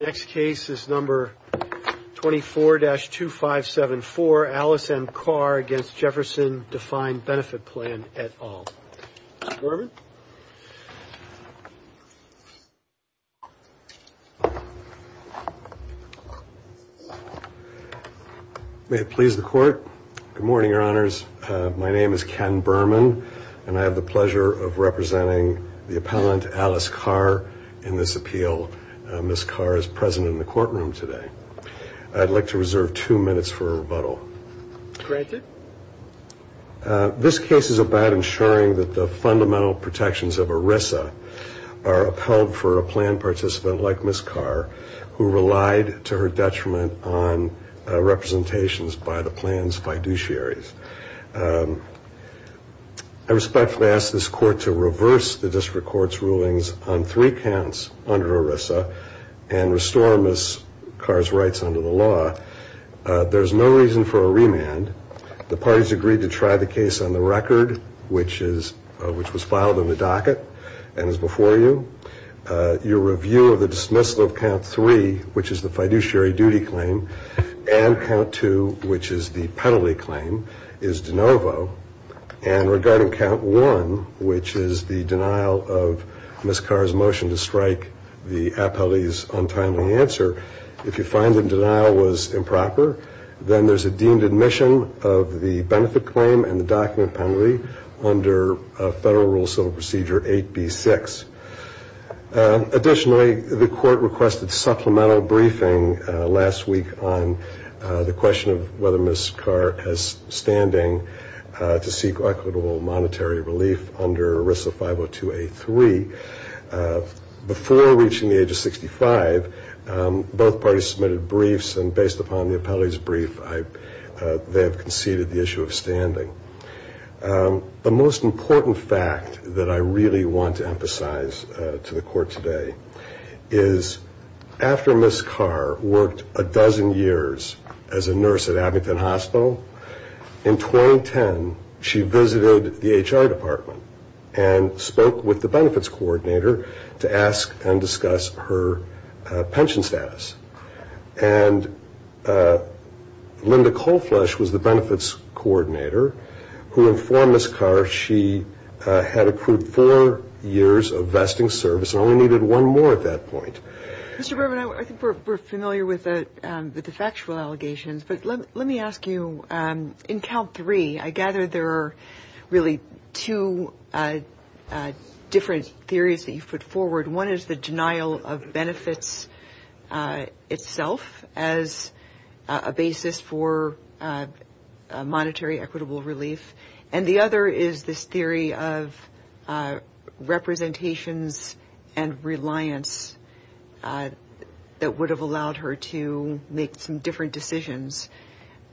Next case is number 24-2574. Alice M. Carr against Jefferson Defined Benefit Plan et al. May it please the court. Good morning, your honors. My name is Ken Berman, and I have the pleasure of representing the appellant, Alice Carr, in this appeal. Ms. Carr is present in the courtroom today. I'd like to reserve two minutes for a rebuttal. Granted. This case is about ensuring that the fundamental protections of ERISA are upheld for a plan participant like Ms. Carr, who relied to her detriment on representations by the plans fiduciaries. I respectfully ask this court to reverse the district court's rulings on three counts under ERISA and restore Ms. Carr's rights under the law. There's no reason for a remand. The parties agreed to try the case on the record, which was filed in the docket and is before you. Your review of the dismissal of count three, which is the fiduciary duty claim, and count two, which is the penalty claim, is de novo. And regarding count one, which is the denial of Ms. Carr's motion to strike the appellee's untimely answer, if you find the denial was improper, then there's a deemed admission of the benefit claim and the document penalty under a federal rule civil procedure 8B6. Additionally, the court requested supplemental briefing last week on the question of whether Ms. Carr has standing to seek equitable monetary relief under ERISA 502A3. Before reaching the age of 65, both parties submitted briefs and based upon the appellee's brief, they have conceded the issue of standing. The most important fact that I really want to emphasize to the court today is after Ms. Carr worked a dozen years as a nurse at Abington Hospital, in 2010, she visited the HR department and spoke with the benefits coordinator to ask and discuss her pension status. And Linda Colflush was the benefits coordinator who informed Ms. Carr she had accrued four years of vesting service and only needed one more at that point. Mr. Berman, I think we're familiar with the factual allegations, but let me ask you, in count three, I gather there are really two different theories that you put forward. One is the denial of benefits itself as a basis for monetary equitable relief. And the other is this theory of representations and reliance that would have allowed her to make some different decisions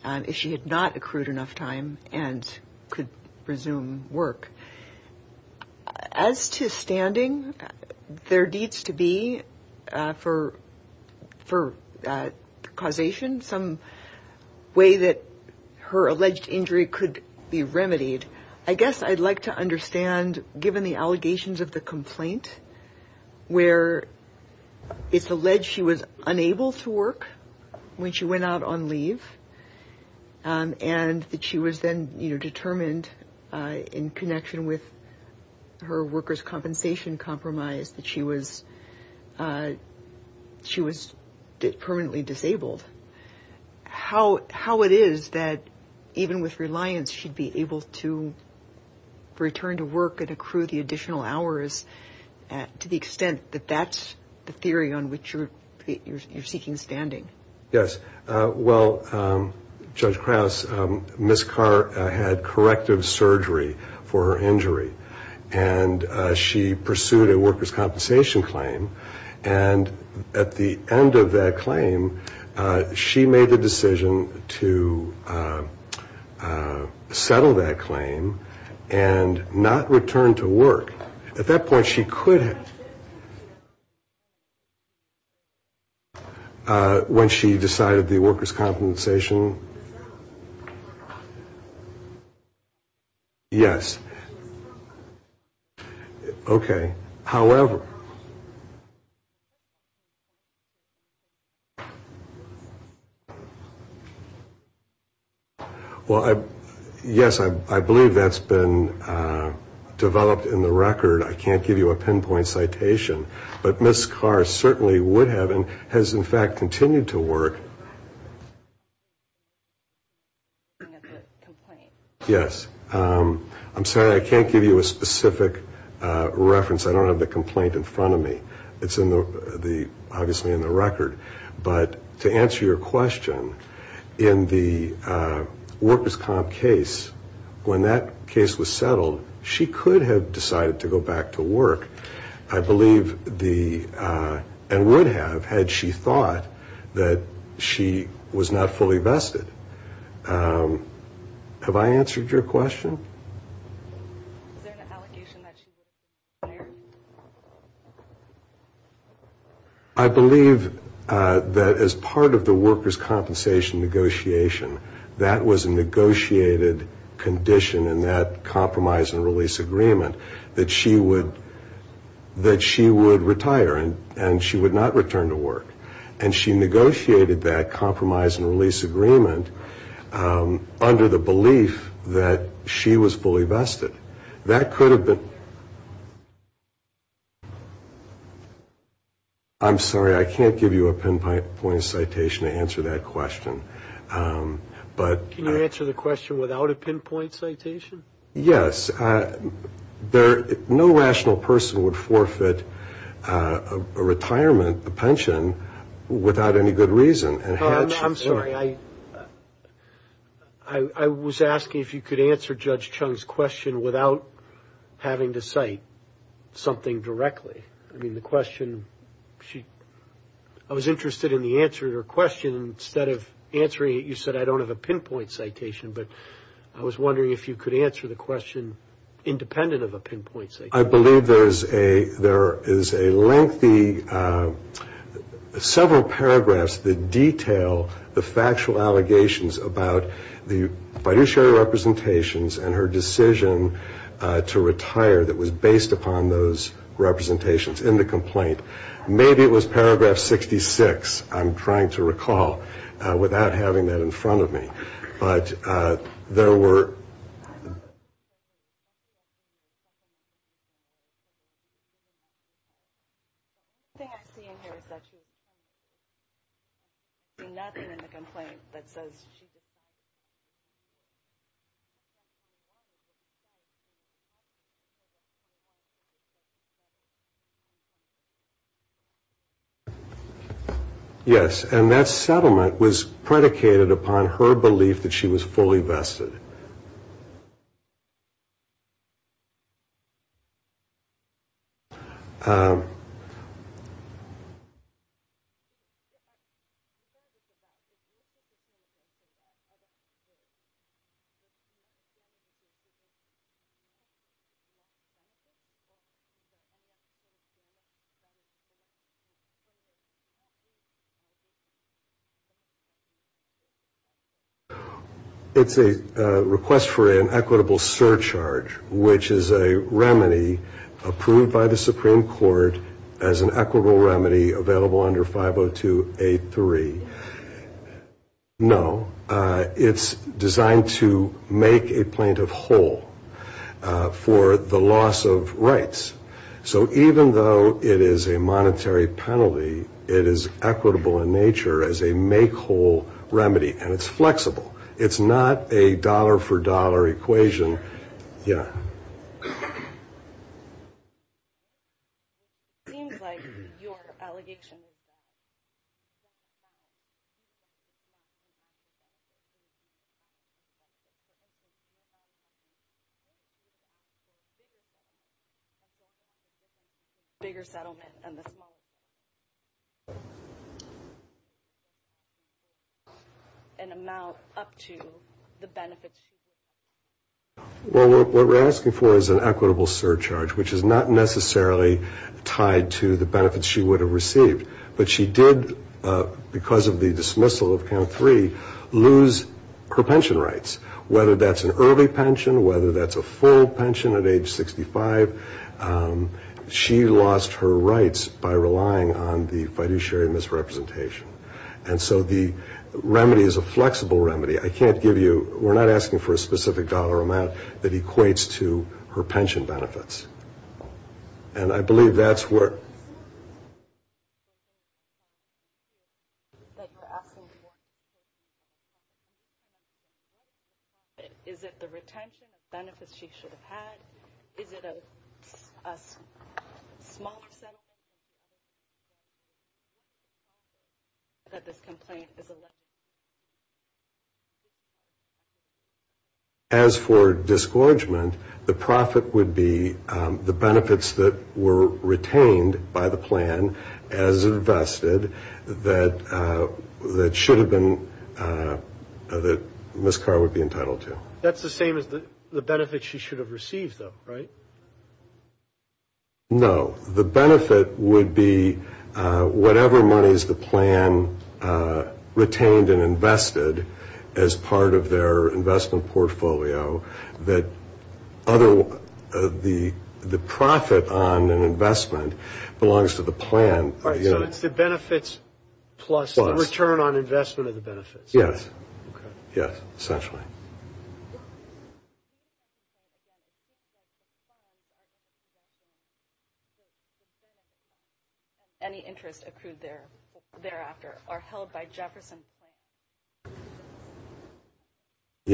if she had not accrued enough time and could resume work. As to standing, there needs to be for causation some way that her injury could be remedied. I guess I'd like to understand, given the allegations of the complaint, where it's alleged she was unable to work when she went out on leave, and that she was then determined in connection with her workers' compensation compromise that she was permanently disabled. How it is that even with reliance, she'd be able to return to work and accrue the additional hours to the extent that that's the theory on which you're seeking standing? Yes. Well, Judge Krause, Ms. Carr had corrective surgery for her injury, and she pursued a workers' compensation claim. And at the end of that claim, she made the decision to settle that claim and not return to work. At that point, she could have, when she decided the workers' compensation, yes. Okay. However, well, yes, I believe that's been developed in the record. I can't give you a pinpoint citation, but Ms. Carr certainly would have and has, in fact, continued to work. Yes. I'm sorry. I can't give you a specific reference. I don't have the complaint in front of me. It's obviously in the record. But to answer your question, in the workers' comp case, when that case was settled, she could have decided to go back to work, I believe, and would have had she thought that she was not fully vested. Have I answered your question? Is there an allegation that she would have retired? I believe that as part of the workers' compensation negotiation, that was a negotiated condition in that compromise and release agreement that she would retire and she would not return to work. And she negotiated that compromise and release agreement under the that she was fully vested. That could have been. I'm sorry. I can't give you a pinpoint citation to answer that question. Can you answer the question without a pinpoint citation? Yes. No rational person would forfeit a retirement, a pension, without any good reason. I'm sorry. I was asking if you could answer Judge Chung's question without having to cite something directly. I was interested in the answer to her question. Instead of answering it, you said, I don't have a pinpoint citation. But I was wondering if you could answer the question independent of a pinpoint citation. I believe there is a lengthy, several paragraphs that detail the factual allegations about the fiduciary representations and her decision to retire that was based upon those representations in the complaint. Maybe it was paragraph 66. I'm trying to recall without having that in front of me. But there were. I'm sorry. Yes. And that settlement was predicated upon her belief that she was fully vested. Yes. Yes. Yes. It's designed to make a plaintiff whole for the loss of rights. So even though it is a monetary penalty, it is equitable in nature as a make-whole remedy. And it's flexible. It's not a dollar-for-dollar equation. Yeah. Well, what we're asking for is an equitable surcharge, which is not necessarily tied to the benefits she would have received. But she did, because of the dismissal of count three, lose her pension rights, whether that's an early pension, whether that's a full pension at age 65. She lost her rights by relying on the fiduciary misrepresentation. And so the remedy is a flexible remedy. We're not asking for a specific dollar amount that equates to her pension benefits. And I believe that's where... As for disgorgement, the profit would be the benefits that were retained by the plan as invested that should have been... that Ms. Carr would be entitled to. That's the same as the benefits she should have received, though, right? No. The benefit would be whatever monies the plan retained and invested as part of their investment portfolio that the profit on an investment belongs to the plan. So it's the benefits plus the return on investment of the benefits. Yes. Yes, essentially.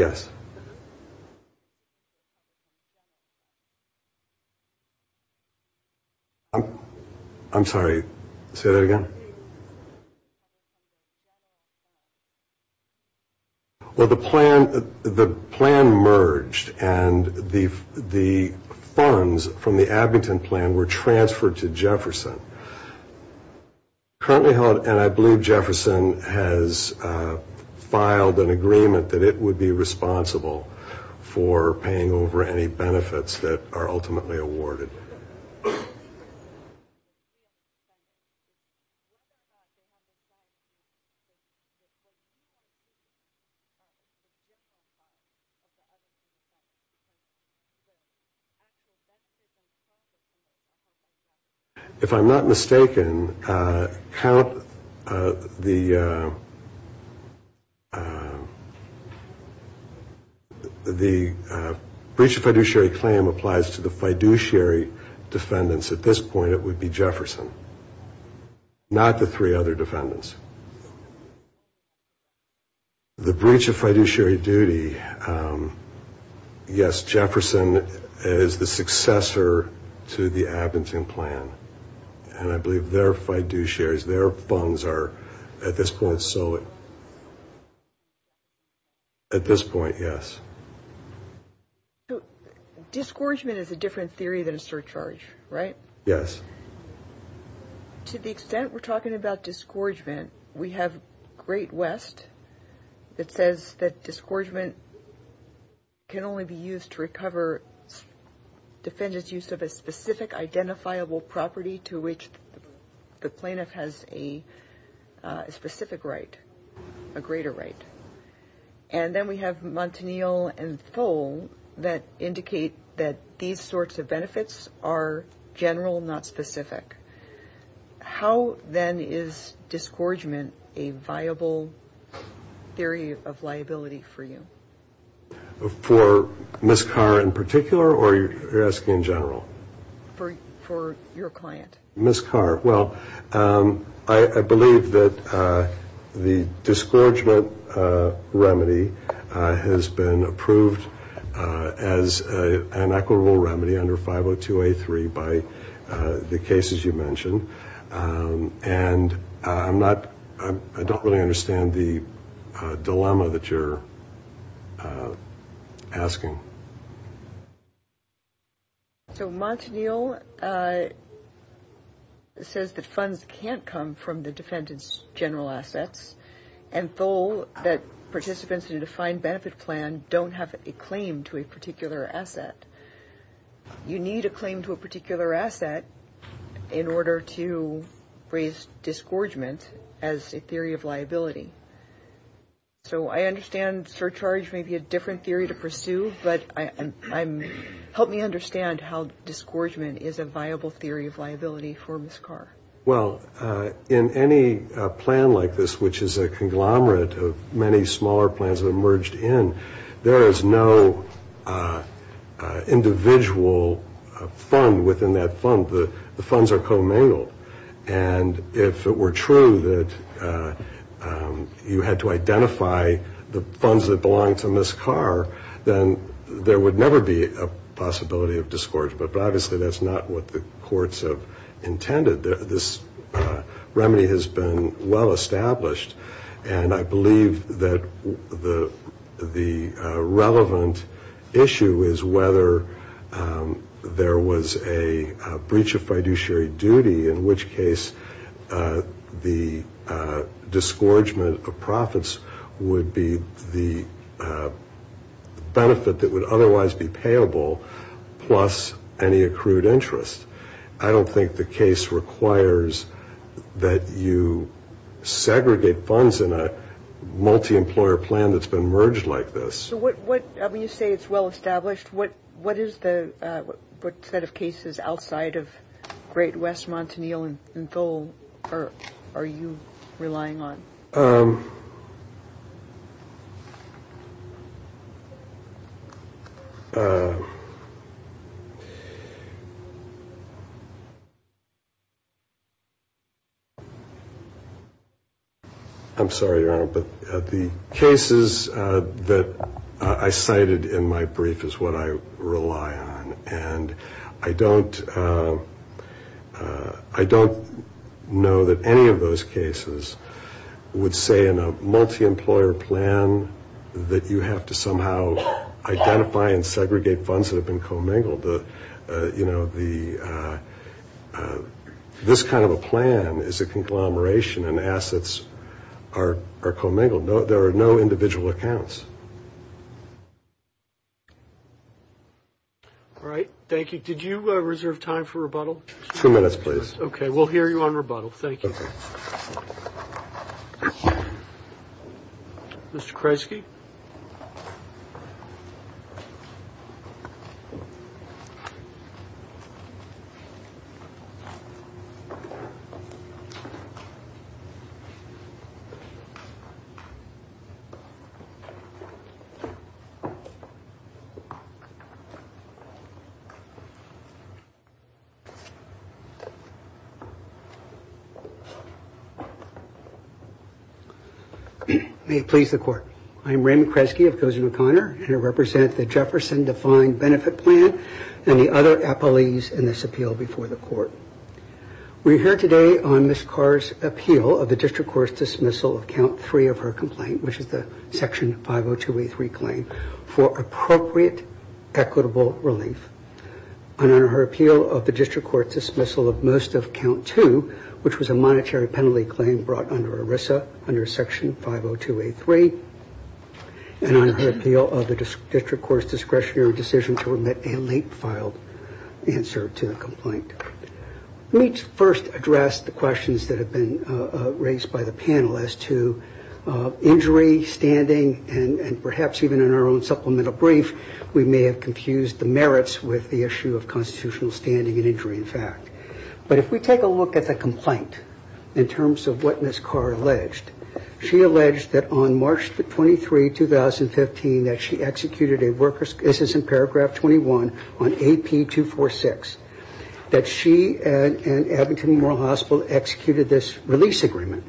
Yes. Yes. I'm sorry, say that again. Well, the plan merged, and the funds from the Abington plan were transferred to Jefferson. Currently held, and I believe Jefferson has filed an agreement that it would be responsible for paying over any benefits that are ultimately awarded. If I'm not mistaken, count the breach of fiduciary claim applies to the three other defendants. The breach of fiduciary duty, yes, Jefferson is the successor to the Abington plan, and I believe their fiduciaries, their funds are at this point... At this point, yes. So, discouragement is a different theory than a surcharge, right? Yes. To the extent we're talking about discouragement, we have Great West that says that discouragement can only be used to recover defendants' use of a specific identifiable property to which the plaintiff has a specific right, a greater right. And then we have Montanil and Thole that indicate that these sorts of benefits are general, not specific. How, then, is discouragement a viable theory of liability for you? For Ms. Carr in particular, or you're asking in general? For your client. Ms. Carr, well, I believe that the discouragement remedy has been approved as an equitable remedy under 502A3 by the cases you mentioned. And I don't really understand the dilemma that you're asking. So, Montanil says that funds can't come from the defendant's general assets, and Thole, that participants in a defined benefit plan don't have a claim to a particular asset. You need a claim to a particular asset in order to raise discouragement as a theory of liability. So, I understand surcharge may be a different theory to pursue, but help me understand how discouragement is a viable theory of liability for Ms. Carr. Well, in any plan like this, which is a conglomerate of many smaller plans that merged in, there is no individual fund within that fund. The funds are co-mingled. And if it were true that you had to identify the funds that Ms. Carr, then there would never be a possibility of discouragement. But obviously, that's not what the courts have intended. This remedy has been well established, and I believe that the relevant issue is whether there was a breach of fiduciary duty, in which case the discouragement of profits would be the benefit that would otherwise be payable, plus any accrued interest. I don't think the case requires that you segregate funds in a multi-employer plan that's been merged like this. So, when you say it's well established, what is the set of cases outside of Great West, Montanil, and Thole are you relying on? I'm sorry, Your Honor, but the cases that I cited in my brief is what I rely on. And I don't know that any of those cases would say in a multi-employer plan that you have to somehow identify and segregate funds that have been co-mingled. This kind of a plan is a conglomeration, and assets are co-mingled. There are no individual accounts. All right. Thank you. Did you reserve time for rebuttal? Two minutes, please. Okay. We'll hear you on rebuttal. Thank you. Okay. Mr. Kreisky? May it please the Court. I'm Raymond Kreisky of Goshen O'Connor, and I represent the Jefferson Defined Benefit Plan and the other appellees in this appeal before the Court. We're here today on Ms. Carr's appeal of the district court's dismissal of count three of her complaint, which is the Section 502A3 claim, for appropriate equitable relief. And on her appeal of the district court's dismissal of most of count two, which was a monetary penalty claim brought under ERISA under Section 502A3, and on her appeal of the district court's discretionary decision to remit a late-filed answer to the complaint. Let me first address the questions that have been raised by the panel as to injury, standing, and perhaps even in our own supplemental brief, we may have confused the merits with the issue of constitutional standing and injury, in fact. But if we take a look at the complaint in terms of what Ms. Carr alleged, she alleged that on March 23, 2015, that she executed a worker's, this is in paragraph 21, on AP246, that she and Edmonton Memorial Hospital executed this release agreement.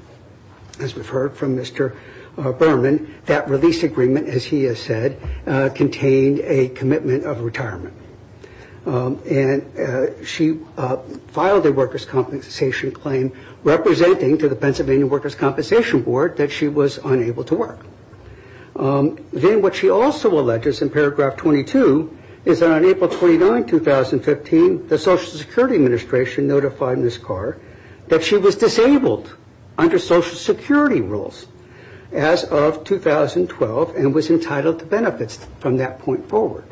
As we've heard from Mr. Berman, that release agreement, as he has said, contained a commitment of retirement. And she filed a worker's compensation claim representing to the Pennsylvania Workers' Compensation Board that she was unable to work. Then what she also alleges in paragraph 22 is that on April 29, 2015, the Social Security Administration notified Ms. Carr that she was disabled under Social Security rules as of 2012 and was entitled to benefits from that point forward.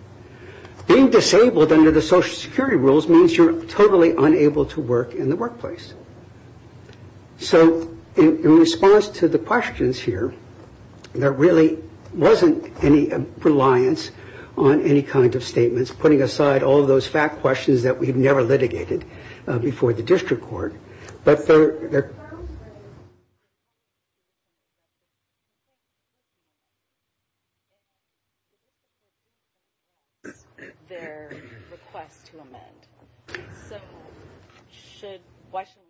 Being disabled under the Social Security rules means you're totally unable to work in the workplace. So in response to the questions here, there really wasn't any reliance on any kind of statements, putting aside all those fact questions that we've never litigated before the district court. But there, their, their request to amend. So should, why should,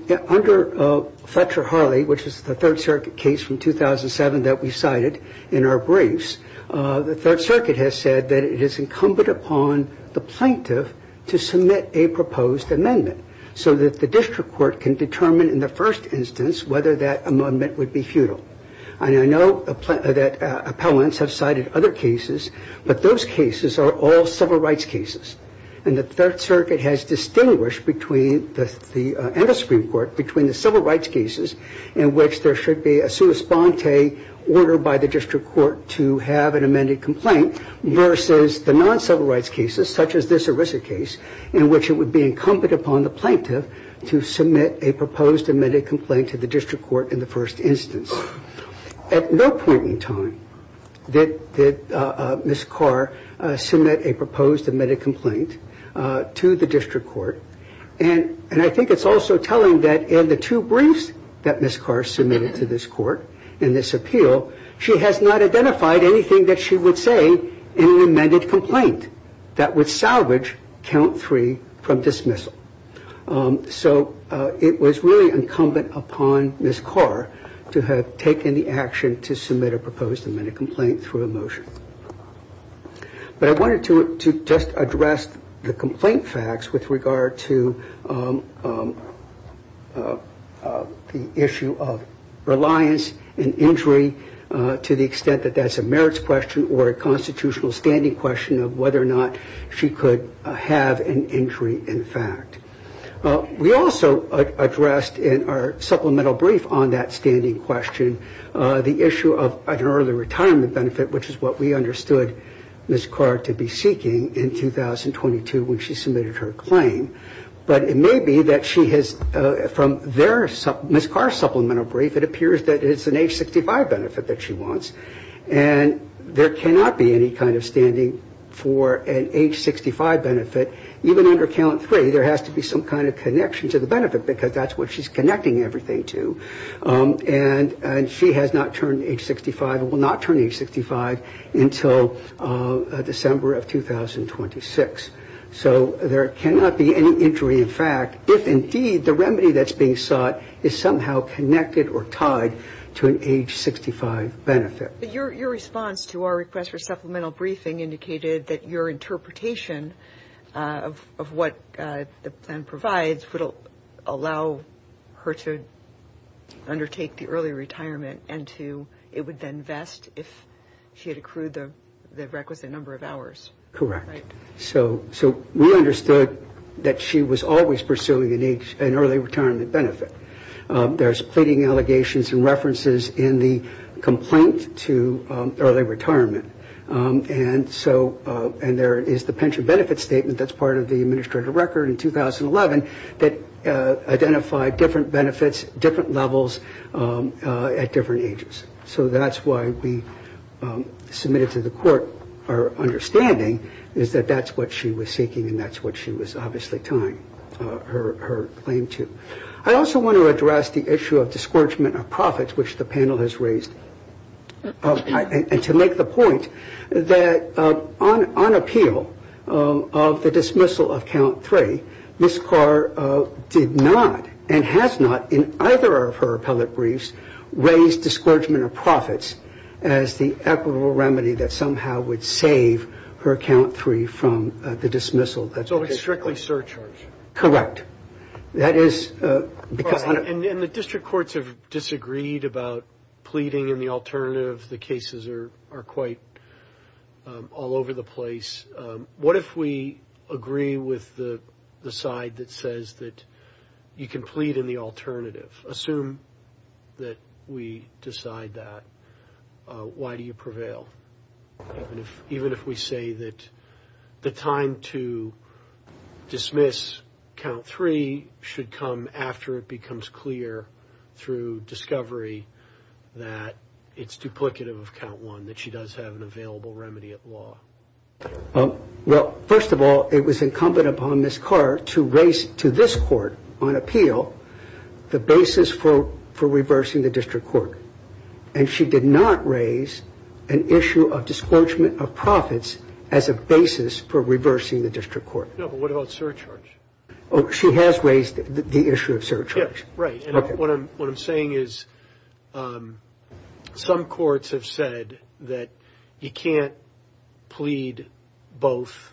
the, under Fletcher-Harley, which is the Third Circuit case from 2007 that we cited in our briefs, the Third Circuit has said that it is incumbent upon the plaintiff to submit a proposed amendment so that the district court can determine in the first instance whether that amendment would be futile. And I know that appellants have cited other cases, but those cases are all civil rights cases. And the Third Circuit has distinguished between the, and the Supreme Court, between the civil rights cases in which there should be a sua sponte order by the district court to have an amended complaint, versus the non-civil rights cases, such as this ERISA case, in which it would be incumbent upon the plaintiff to submit a proposed amended complaint to the district court in the first instance. At no point in time did, did Ms. Carr submit a proposed amended complaint to the district court. And, and I think it's also telling that in the two briefs that Ms. Carr submitted to this court in this appeal, she has not identified anything that she would say in an amended complaint that would salvage count three from dismissal. So it was really incumbent upon Ms. Carr to have taken the action to submit a proposed amended complaint through a motion. But I wanted to just address the complaint facts with regard to the issue of reliance and injury to the extent that that's a merits question or a constitutional standing question of whether or not she could have an injury in fact. We also addressed in our supplemental brief on that standing question the issue of an early retirement benefit, which is what we understood Ms. Carr to be seeking in 2022 when she submitted her claim. But it may be that she has, from their, Ms. Carr's supplemental brief, it appears that it's an age 65 benefit that she wants. And there cannot be any kind of standing for an age 65 benefit. Even under count three, there has to be some kind of connection to the benefit because that's what she's connecting everything to. And, and she has not turned age 65, will not turn age 65 until December of 2026. So there cannot be any injury in fact, if indeed the remedy that's being sought is somehow connected or tied to an age 65 benefit. Your response to our request for supplemental briefing indicated that your interpretation of what the plan provides allow her to undertake the early retirement and to, it would then vest if she had accrued the the requisite number of hours. Correct. So, so we understood that she was always pursuing an age, an early retirement benefit. There's pleading allegations and references in the complaint to early retirement. And so, and there is the pension benefit statement that's part of the identified different benefits, different levels at different ages. So that's why we submitted to the court our understanding is that that's what she was seeking. And that's what she was obviously tying her claim to. I also want to address the issue of discouragement of profits, which the panel has raised. And to make the point that on, on appeal of the dismissal of count three, Ms. Carr did not and has not in either of her appellate briefs raised discouragement of profits as the equitable remedy that somehow would save her count three from the dismissal. That's always strictly surcharge. Correct. That is because. And the district courts have disagreed about pleading in the alternative. The cases are, are quite all over the place. What if we agree with the side that says that you can plead in the alternative? Assume that we decide that. Why do you prevail? Even if we say that the time to dismiss count three should come after it becomes clear through discovery that it's duplicative of count one, that she does have an available remedy at law. Well, first of all, it was incumbent upon Ms. Carr to raise to this court on appeal the basis for, for reversing the district court. And she did not raise an issue of discouragement of profits as a basis for reversing the district court. No, but what about surcharge? Oh, she has raised the issue of surcharge. Yeah, right. And what I'm saying is some courts have said that you can't plead both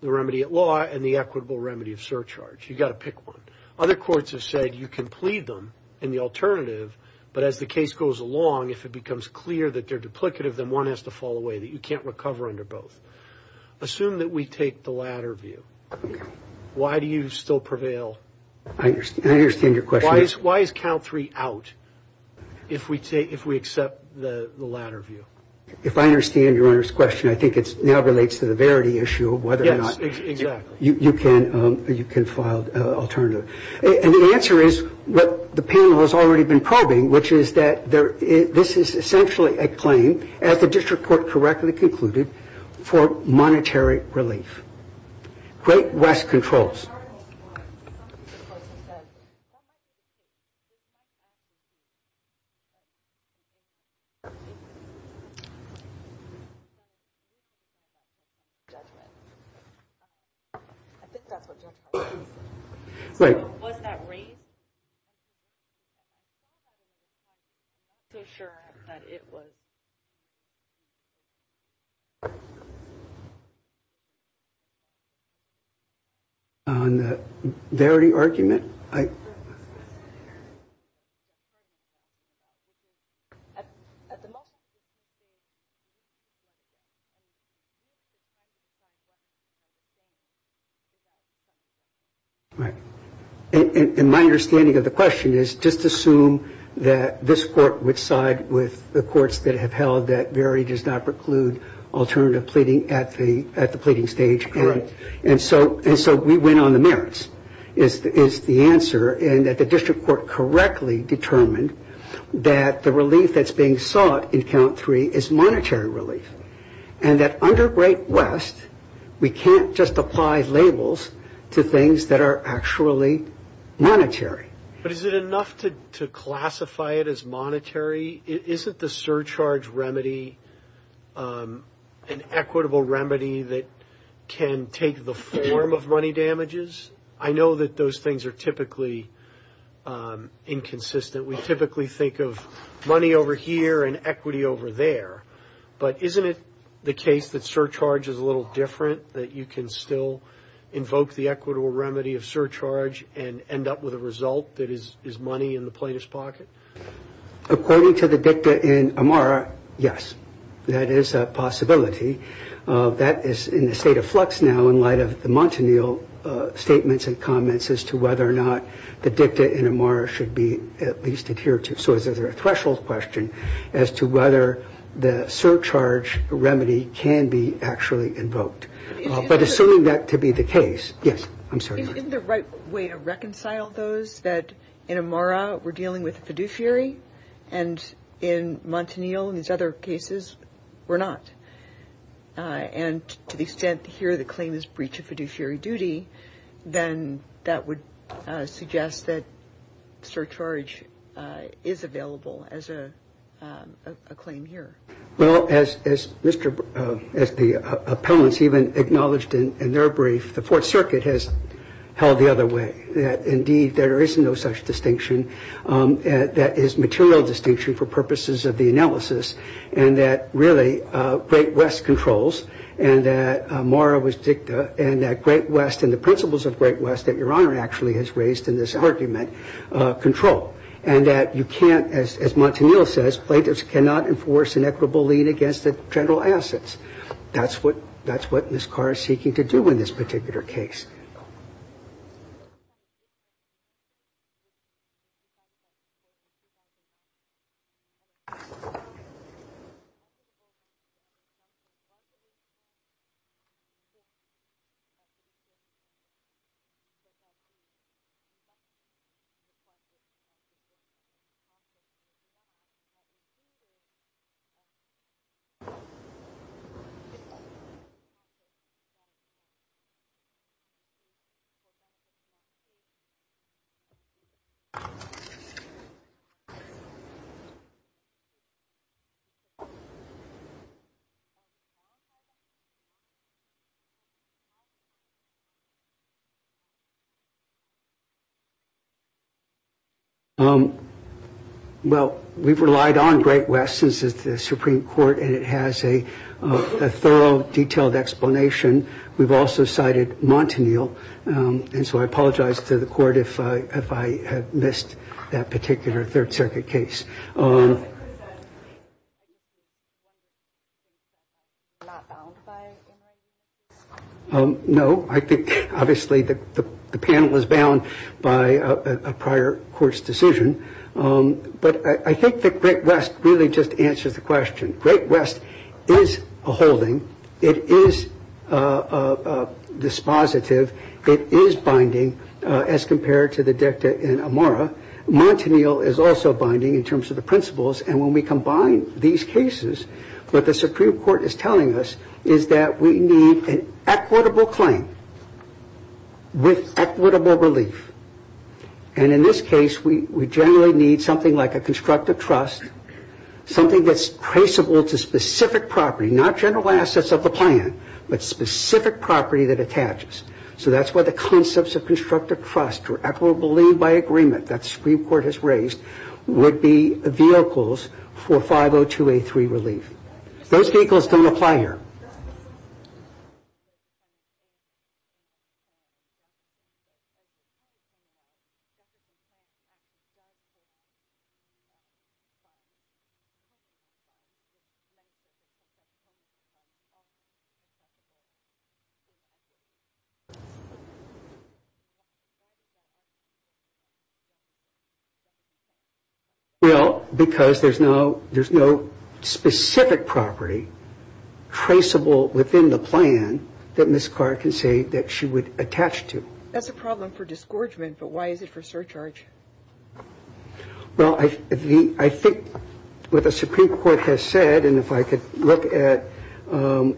the remedy at law and the equitable remedy of surcharge. You got to pick one. Other courts have said you can plead them in the alternative, but as the case goes along, if it becomes clear that they're duplicative, then one has to fall away that you can't recover under both. Assume that we take the latter view. Why do you still prevail? I understand your question. Why is count three out if we take, if we accept the latter view? If I understand Your Honor's question, I think it's now relates to the verity issue of whether or not you can, you can file alternative. And the answer is what the panel has already been probing, which is that there, this is essentially a claim, as the district court correctly concluded, for monetary relief. Great West controls. On the verity argument, I, right. And my understanding of the question is just assume that this court would side with the verity does not preclude alternative pleading at the, at the pleading stage. Correct. And so, and so we went on the merits is the answer and that the district court correctly determined that the relief that's being sought in count three is monetary relief. And that under Great West, we can't just apply labels to things that are actually monetary. But is it enough to, to classify it as monetary? Is it the surcharge remedy, an equitable remedy that can take the form of money damages? I know that those things are typically inconsistent. We typically think of money over here and equity over there, but isn't it the case that surcharge is a little different that you can still invoke the equitable remedy of surcharge and end up with a result that is, is money in the plaintiff's pocket? According to the dicta in Amara, yes, that is a possibility. That is in the state of flux now in light of the Montanil statements and comments as to whether or not the dicta in Amara should be at least adhered to. So is there a threshold question as to whether the surcharge remedy can be actually invoked? But assuming that to be the case, yes, I'm sorry. Isn't the right way to reconcile those that in Amara, we're dealing with a fiduciary and in Montanil and these other cases, we're not. And to the extent here, the claim is breach of fiduciary duty, then that would suggest that surcharge is available as a claim here. Well, as Mr., as the appellants even acknowledged in their brief, the Fourth Circuit has held the other way, that indeed there is no such distinction that is material distinction for purposes of the analysis and that really Great West controls and that Amara was dicta and that Great West and the principles of Great West that Your Honor actually has raised in this argument control. And that you can't, as Montanil says, plaintiffs cannot enforce an equitable lien against the general assets. That's what Ms. Carr is seeking to do in this particular case. Um, well, we've relied on Great West since it's the Supreme Court and it has a thorough, detailed explanation. We've also cited Montanil. And so I apologize to the court if I had missed that particular Third Circuit case. Um, no, I think obviously the panel is bound by a prior court's decision. But I think that Great West really just answers the question. Great West is a holding. It is a dispositive. It is binding as compared to the dicta in Amara. Montanil is also binding in terms of the principles. And when we combine these cases, what the Supreme Court is telling us is that we need an equitable claim with equitable relief. And in this case, we generally need something like a constructive trust, something that's traceable to specific property, not general assets of the plan, but specific property that it attaches. So that's why the concepts of constructive trust or equitable lien by agreement that the Supreme Court has raised would be vehicles for 502A3 relief. Those vehicles don't apply here. Well, because there's no specific property traceable within the plan that Ms. Carr can say that she would attach to. That's a problem for disgorgement, but why is it for surcharge? Well, I think what the Supreme Court has said, and if I could look at the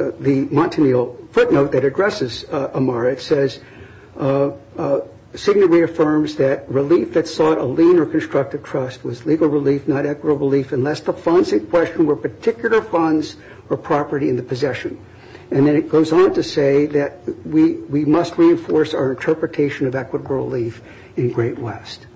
Montanil footnote that addresses Amara, it says, signally affirms that relief that sought a lien or constructive trust was legal relief, not equitable relief unless the funds in question were particular funds or property in the possession. And then it goes on to say that we must reinforce our interpretation of equitable relief in Great West.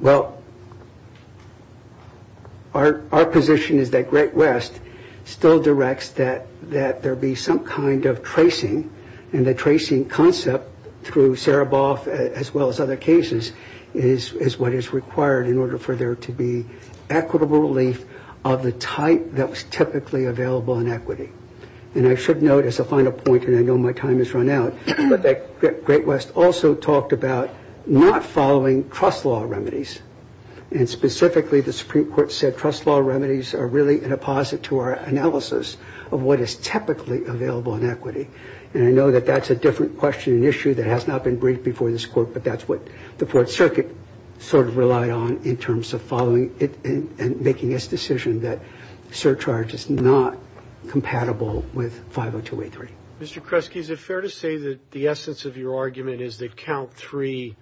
Well, our position is that Great West still directs that there be some kind of tracing, and the tracing concept through Sereboff as well as other cases is what is required in order for there to be equitable relief of the type that was typically available in equity. And I should note as a final point, and I know my time has run out, but that Great West also talked about not following trust law remedies. And specifically, the Supreme Court said trust law remedies are really an apposite to our analysis of what is typically available in equity. And I know that that's a different question and issue that has not been briefed before this court, but that's what the Fourth Circuit sort of relied on in terms of following it and making its decision that surcharge is not compatible with 50283. Mr. Kresge, is it fair to say that the essence of your argument is that count three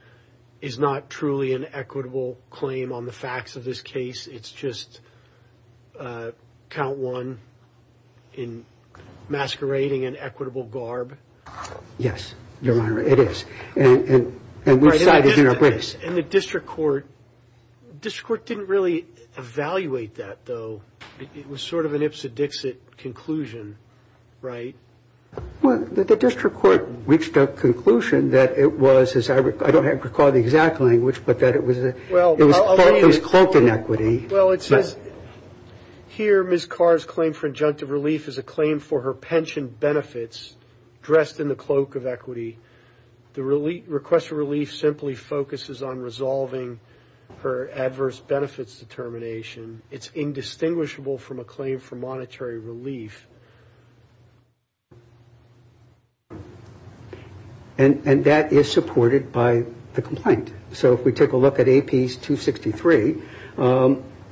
is not truly an equitable claim on the facts of this case? It's just count one in masquerading an equitable garb? Yes, Your Honor, it is. And we've decided in our It was sort of an Ipsit-Dixit conclusion, right? Well, the district court reached a conclusion that it was, I don't have to recall the exact language, but that it was cloaked in equity. Well, it says here Ms. Carr's claim for injunctive relief is a claim for her pension benefits dressed in the cloak of equity. The request for relief simply focuses on resolving her adverse benefits determination. It's indistinguishable from a claim for monetary relief. And that is supported by the complaint. So if we take a look at AP 263,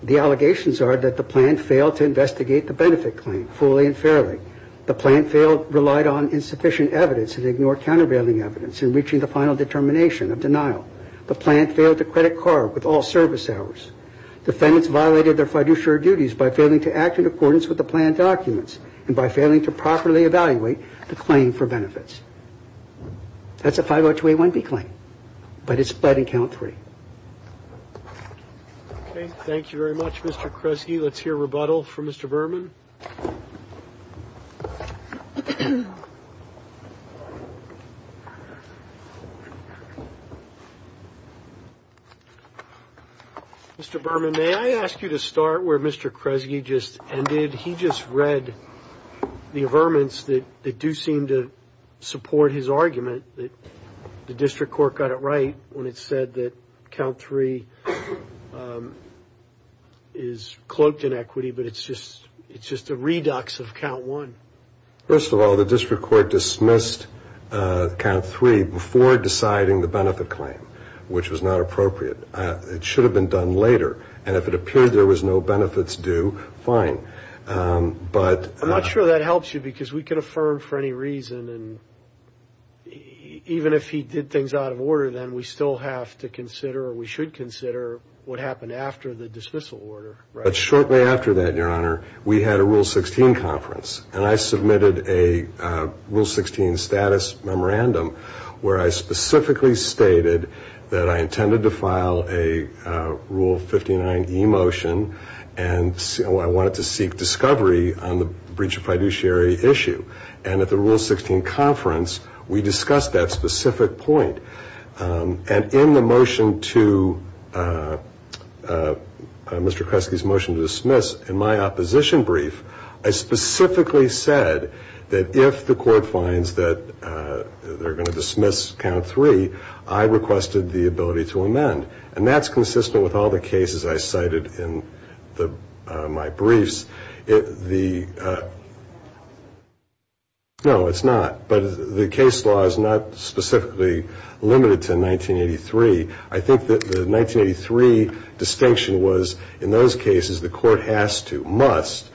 the allegations are that the plan failed to investigate the benefit claim fully and fairly. The plan failed, relied on insufficient evidence and ignored countervailing evidence in reaching the final determination of denial. The plan failed to credit Carr with all service hours. Defendants violated their fiduciary duties by failing to act in accordance with the plan documents and by failing to properly evaluate the claim for benefits. That's a 50281B claim, but it's split in count three. Okay, thank you very much, Mr. Kresge. Let's hear rebuttal from Mr. Berman. Mr. Berman, may I ask you to start where Mr. Kresge just ended? He just read the averments that do seem to support his argument that the district court got it right when it said that count three is cloaked in equity, but it's just a redux of count one. First of all, the district court dismissed count three before deciding the benefit claim, which was not appropriate. It should have been done later, and if it appeared there was no benefits due, fine. But... I'm not sure that helps you because we could affirm for any reason and even if he did things out of order, then we still have to consider or we should consider what happened after the dismissal order, right? But shortly after that, Your Honor, we had a Rule 16 conference, and I submitted a Rule 16 status memorandum where I specifically stated that I intended to file a Rule 59 e-motion, and I wanted to seek discovery on the breach of fiduciary issue. And at the Rule 16 conference, we discussed that specific point. And in the motion to Mr. Kresge's motion to dismiss in my opposition brief, I specifically said that if the court finds that they're going to dismiss count three, I requested the ability to amend. And that's consistent with all the cases I cited in my briefs. No, it's not. But the case law is not limited to 1983. I think that the 1983 distinction was in those cases the court has to, must,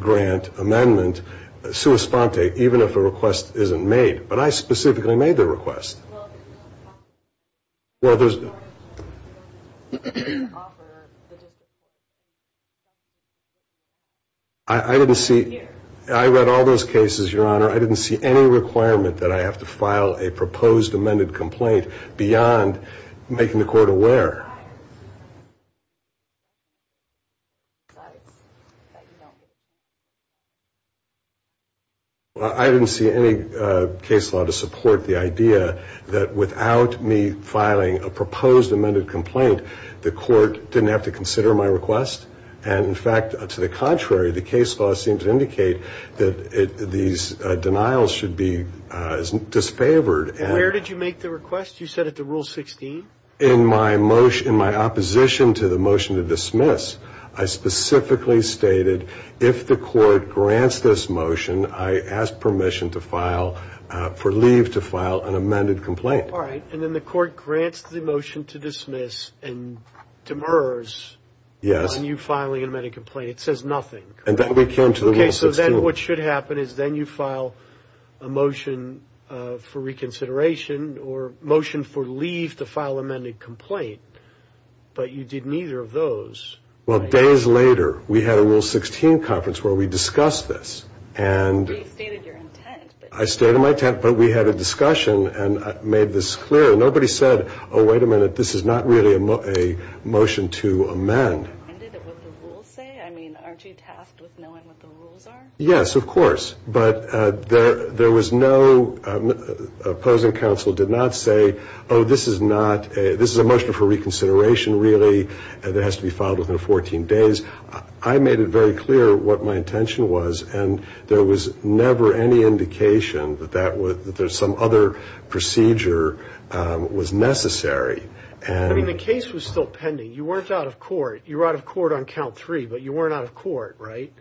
grant amendment sua sponte even if a request isn't made. But I specifically made the request. I didn't see... I read all those cases, Your Honor. I didn't see any requirement that I have to file a proposed amended complaint beyond making the court aware. I didn't see any case law to support the idea that without me filing a proposed amended complaint, the court didn't have to consider my request. And in fact, to the contrary, the case law seemed to that these denials should be disfavored. Where did you make the request? You said at the Rule 16? In my motion, in my opposition to the motion to dismiss, I specifically stated if the court grants this motion, I ask permission to file, for leave to file an amended complaint. All right. And then the court grants the motion to dismiss and demurs on you filing an amended complaint. And then we came to the Rule 16. Okay. So then what should happen is then you file a motion for reconsideration or motion for leave to file amended complaint. But you did neither of those. Well, days later, we had a Rule 16 conference where we discussed this. I stated my intent, but we had a discussion and made this clear. Nobody said, oh, wait a minute, this is not really a motion to amend. Aren't you tasked with knowing what the rules are? Yes, of course. But there was no, opposing counsel did not say, oh, this is not, this is a motion for reconsideration, really, and it has to be filed within 14 days. I made it very clear what my intention was. And there was never any indication that that was, that there's some other procedure was necessary. I mean, the case was still pending. You weren't out of court. You were out of court on count three, but you weren't out of court, right?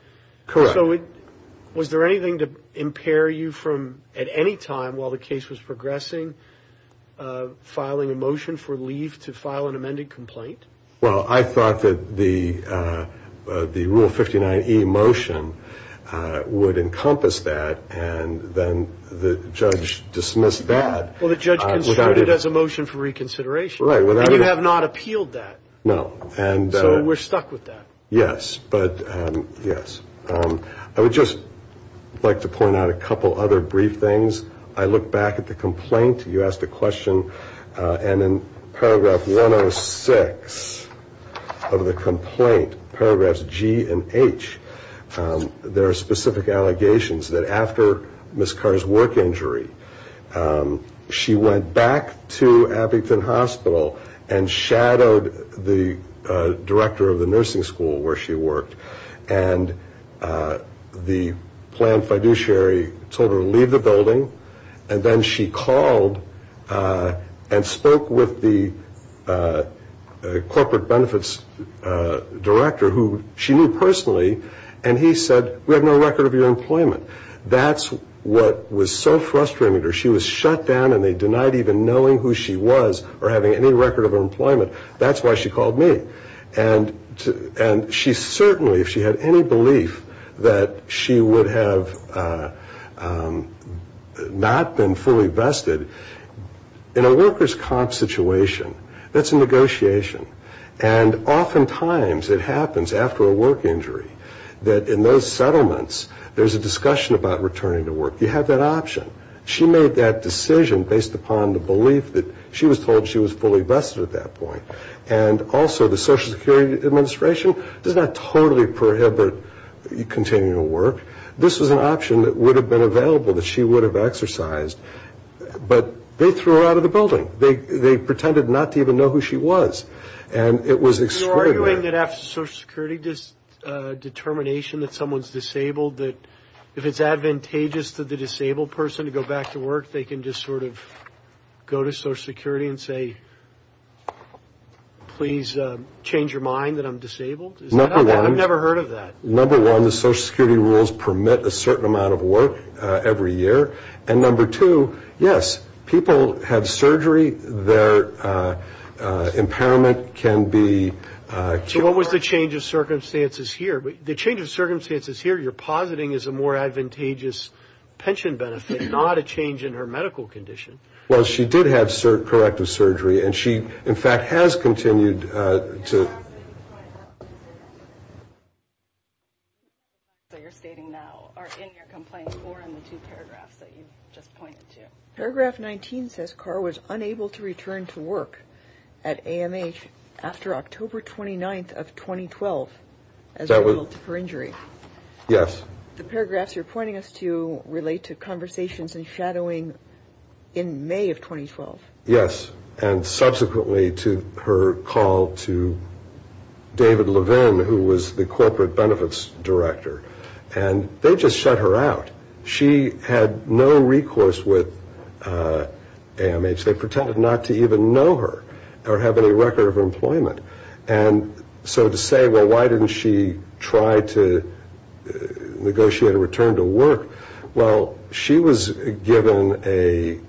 Correct. So was there anything to impair you from, at any time while the case was progressing, filing a motion for leave to file an amended complaint? Well, I thought that the Rule 59e motion would encompass that. And then the judge dismissed that. Well, the judge considered it as a motion for reconsideration. And you have not appealed that. No. So we're stuck with that. Yes. But, yes. I would just like to point out a couple other brief things. I look back at the complaint. You asked a question. And in paragraph 106 of the complaint, paragraphs G and H, there are specific allegations that after Ms. Carr's work injury, she went back to Abington Hospital and shadowed the director of the nursing school where she worked. And the planned fiduciary told her to leave the building. And then she called and spoke with the corporate benefits director, who she knew personally. And he said, we have no record of your employment. That's what was so frustrating to her. She was shut down and they denied even knowing who she was or having any record of her employment. That's why she called me. And she certainly, if she had any belief that she would have not been fully vested, in a worker's comp situation, that's a negotiation. And oftentimes, it happens after a work injury that in those settlements, there's a discussion about returning to work. You have that option. She made that decision based upon the belief that she was told she was fully vested at that point. And also, the Social Security Administration does not totally prohibit continuing to work. This was an option that would have been available that she would have exercised. But they threw her out of the building. They pretended not to even know who she was. And it was extraordinary. You're arguing that after Social Security, this determination that someone's disabled, that if it's advantageous to the disabled person to go back to work, they can just sort of go to Social Security and say, please change your mind that I'm disabled? I've never heard of that. Number one, the Social Security rules permit a certain amount of work every year. And number two, yes, people have surgery. Their impairment can be... So what was the change of circumstances here? The change of circumstances here, you're positing is a more advantageous pension benefit, not a change in her medical condition. Well, she did have corrective surgery. And she, in fact, has continued to... Paragraph 19 says Carr was unable to return to work at AMH after October 29th of 2012 as a result of her injury. Yes. The paragraphs you're pointing us to relate to conversations and shadowing in May of 2012. Yes. And subsequently to her call to David Levin, who was the Corporate Benefits Director. And they just shut her out. She had no recourse with AMH. They pretended not to even know her or have any record of employment. And so to say, well, why didn't she try to negotiate a return to work? Well, she was given a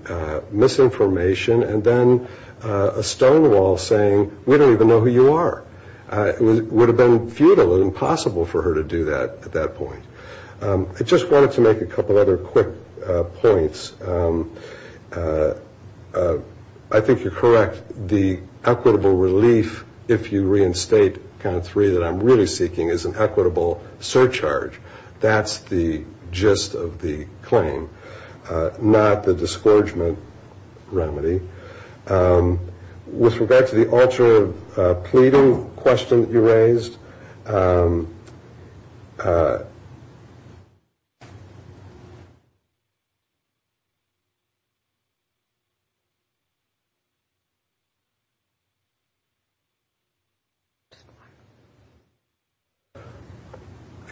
misinformation and then a stonewall saying, we don't even know who you are. It would have been futile and impossible for her to do that at that point. I just wanted to make a couple other quick points. I think you're correct. The equitable relief, if you reinstate count three, that I'm really seeking is an equitable surcharge. That's the gist of the claim, not the disgorgement remedy. With regard to the ultra pleading question that you raised, just one. I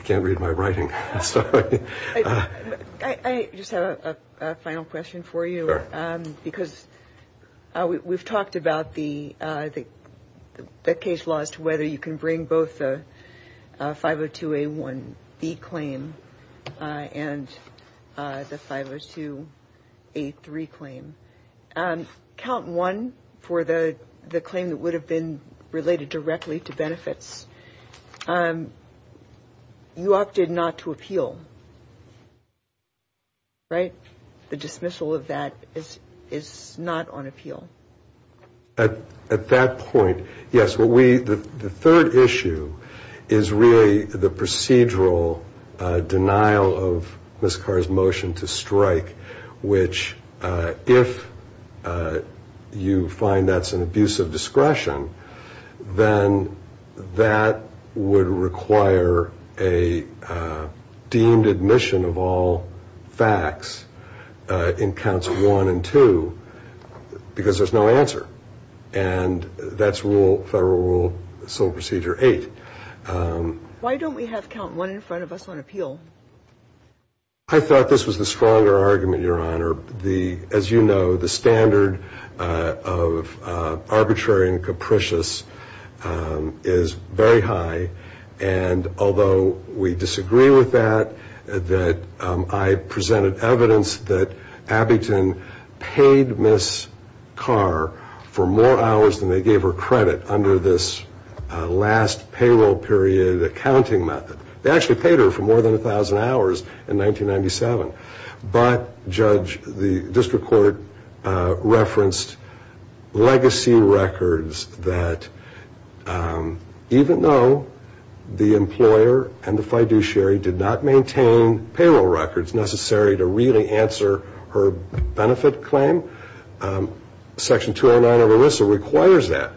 can't read my writing. I just have a final question for you because we've talked about the case laws to whether you can bring both the 502A1B claim and the 502A3 claim. Count one for the claim that would have been related directly to benefits. You opted not to appeal, right? The dismissal of that is not on appeal. At that point, yes. The third issue is really the procedural denial of Ms. Carr's motion to strike, which if you find that's an abuse of discretion, then that would require a deemed admission of all facts in counts one and two because there's no answer. That's Federal Rule Civil Procedure 8. Why don't we have count one in front of us on appeal? I thought this was the stronger argument, Your Honor. As you know, the standard of arbitrary and capricious is very high. Although we disagree with that, I presented evidence that Abbington paid Ms. Carr for more hours than they gave her credit under this last payroll period accounting method. They actually paid her for more than 1,000 hours in 1997. But, Judge, the District Court referenced legacy records that even though the employer and the fiduciary did not maintain payroll records necessary to really answer her benefit claim, Section 209 of ERISA requires that.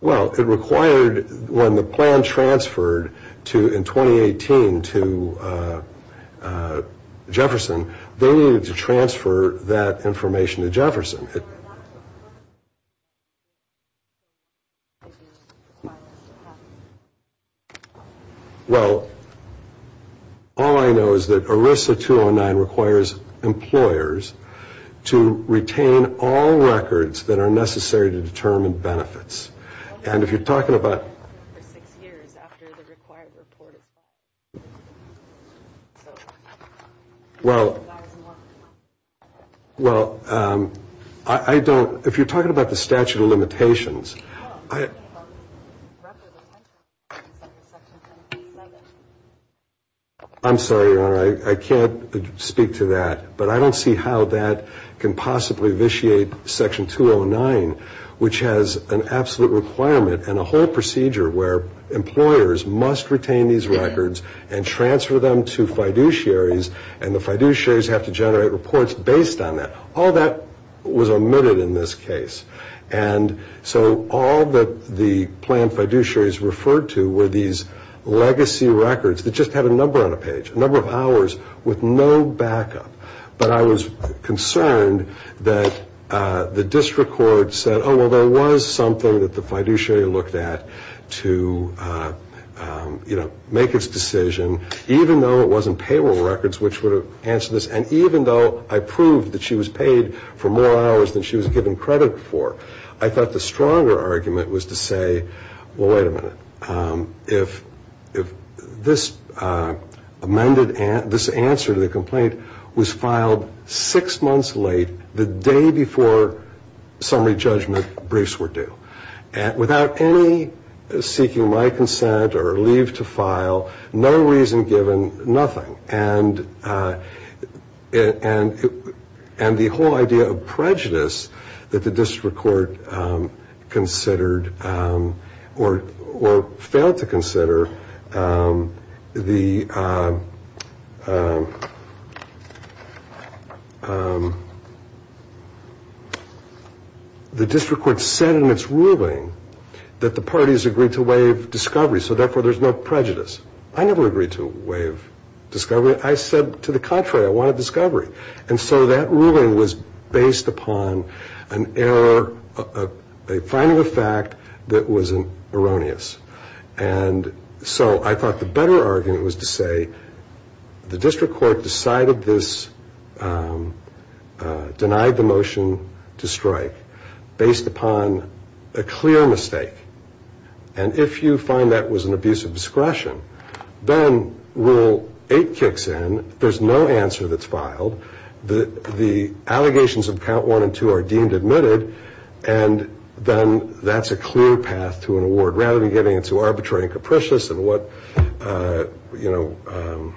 Well, it required when the plan transferred in 2018 to Jefferson, they needed to transfer that information to Jefferson. Well, all I know is that ERISA 209 requires employers to retain all records that are necessary to determine benefits. And if you're talking about... Well, well, I don't, if you're talking about the statute of limitations, I... I'm sorry, Your Honor, I can't speak to that. But I don't see how that can possibly vitiate Section 209, which has an absolute requirement and a whole procedure where employers must retain these records and transfer them to fiduciaries, and the fiduciaries have to generate reports based on that. All that was omitted in this case. And so all that the plan fiduciaries referred to were these legacy records that just had a number on a page, a number of hours with no backup. But I was concerned that the District Court said, oh, well, there was something that the fiduciary looked at to, you know, make its decision, even though it wasn't payroll records which would have And even though I proved that she was paid for more hours than she was given credit for, I thought the stronger argument was to say, well, wait a minute, if this amended, this answer to the complaint was filed six months late, the day before summary judgment, briefs were due. Without any seeking my consent or leave to file, no reason given, nothing. And the whole idea of prejudice that the District Court considered or failed to consider, the District Court said in its ruling that the parties agreed to waive discovery, so therefore there's no prejudice. I never agreed to waive discovery. I said, to the contrary, I wanted discovery. And so that ruling was based upon an error, a finding of fact that was erroneous. And so I thought the better argument was to say, the District Court decided this, denied the motion to strike based upon a clear mistake. And if you find that was an abuse of discretion, then Rule 8 kicks in, there's no answer that's filed, the allegations of Count 1 and 2 are deemed admitted, and then that's a clear path to an award. Rather than getting into arbitrary and capricious and what, you know,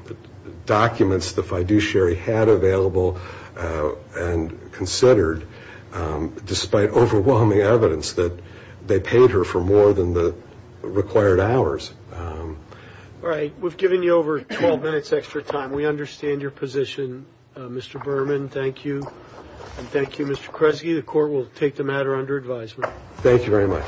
documents the fiduciary had available and considered, despite overwhelming evidence that they paid her for more than the required hours. All right. We've given you over 12 minutes extra time. We understand your position, Mr. Berman. Thank you. And thank you, Mr. Kresge. The Court will take the matter under advisement. Thank you very much.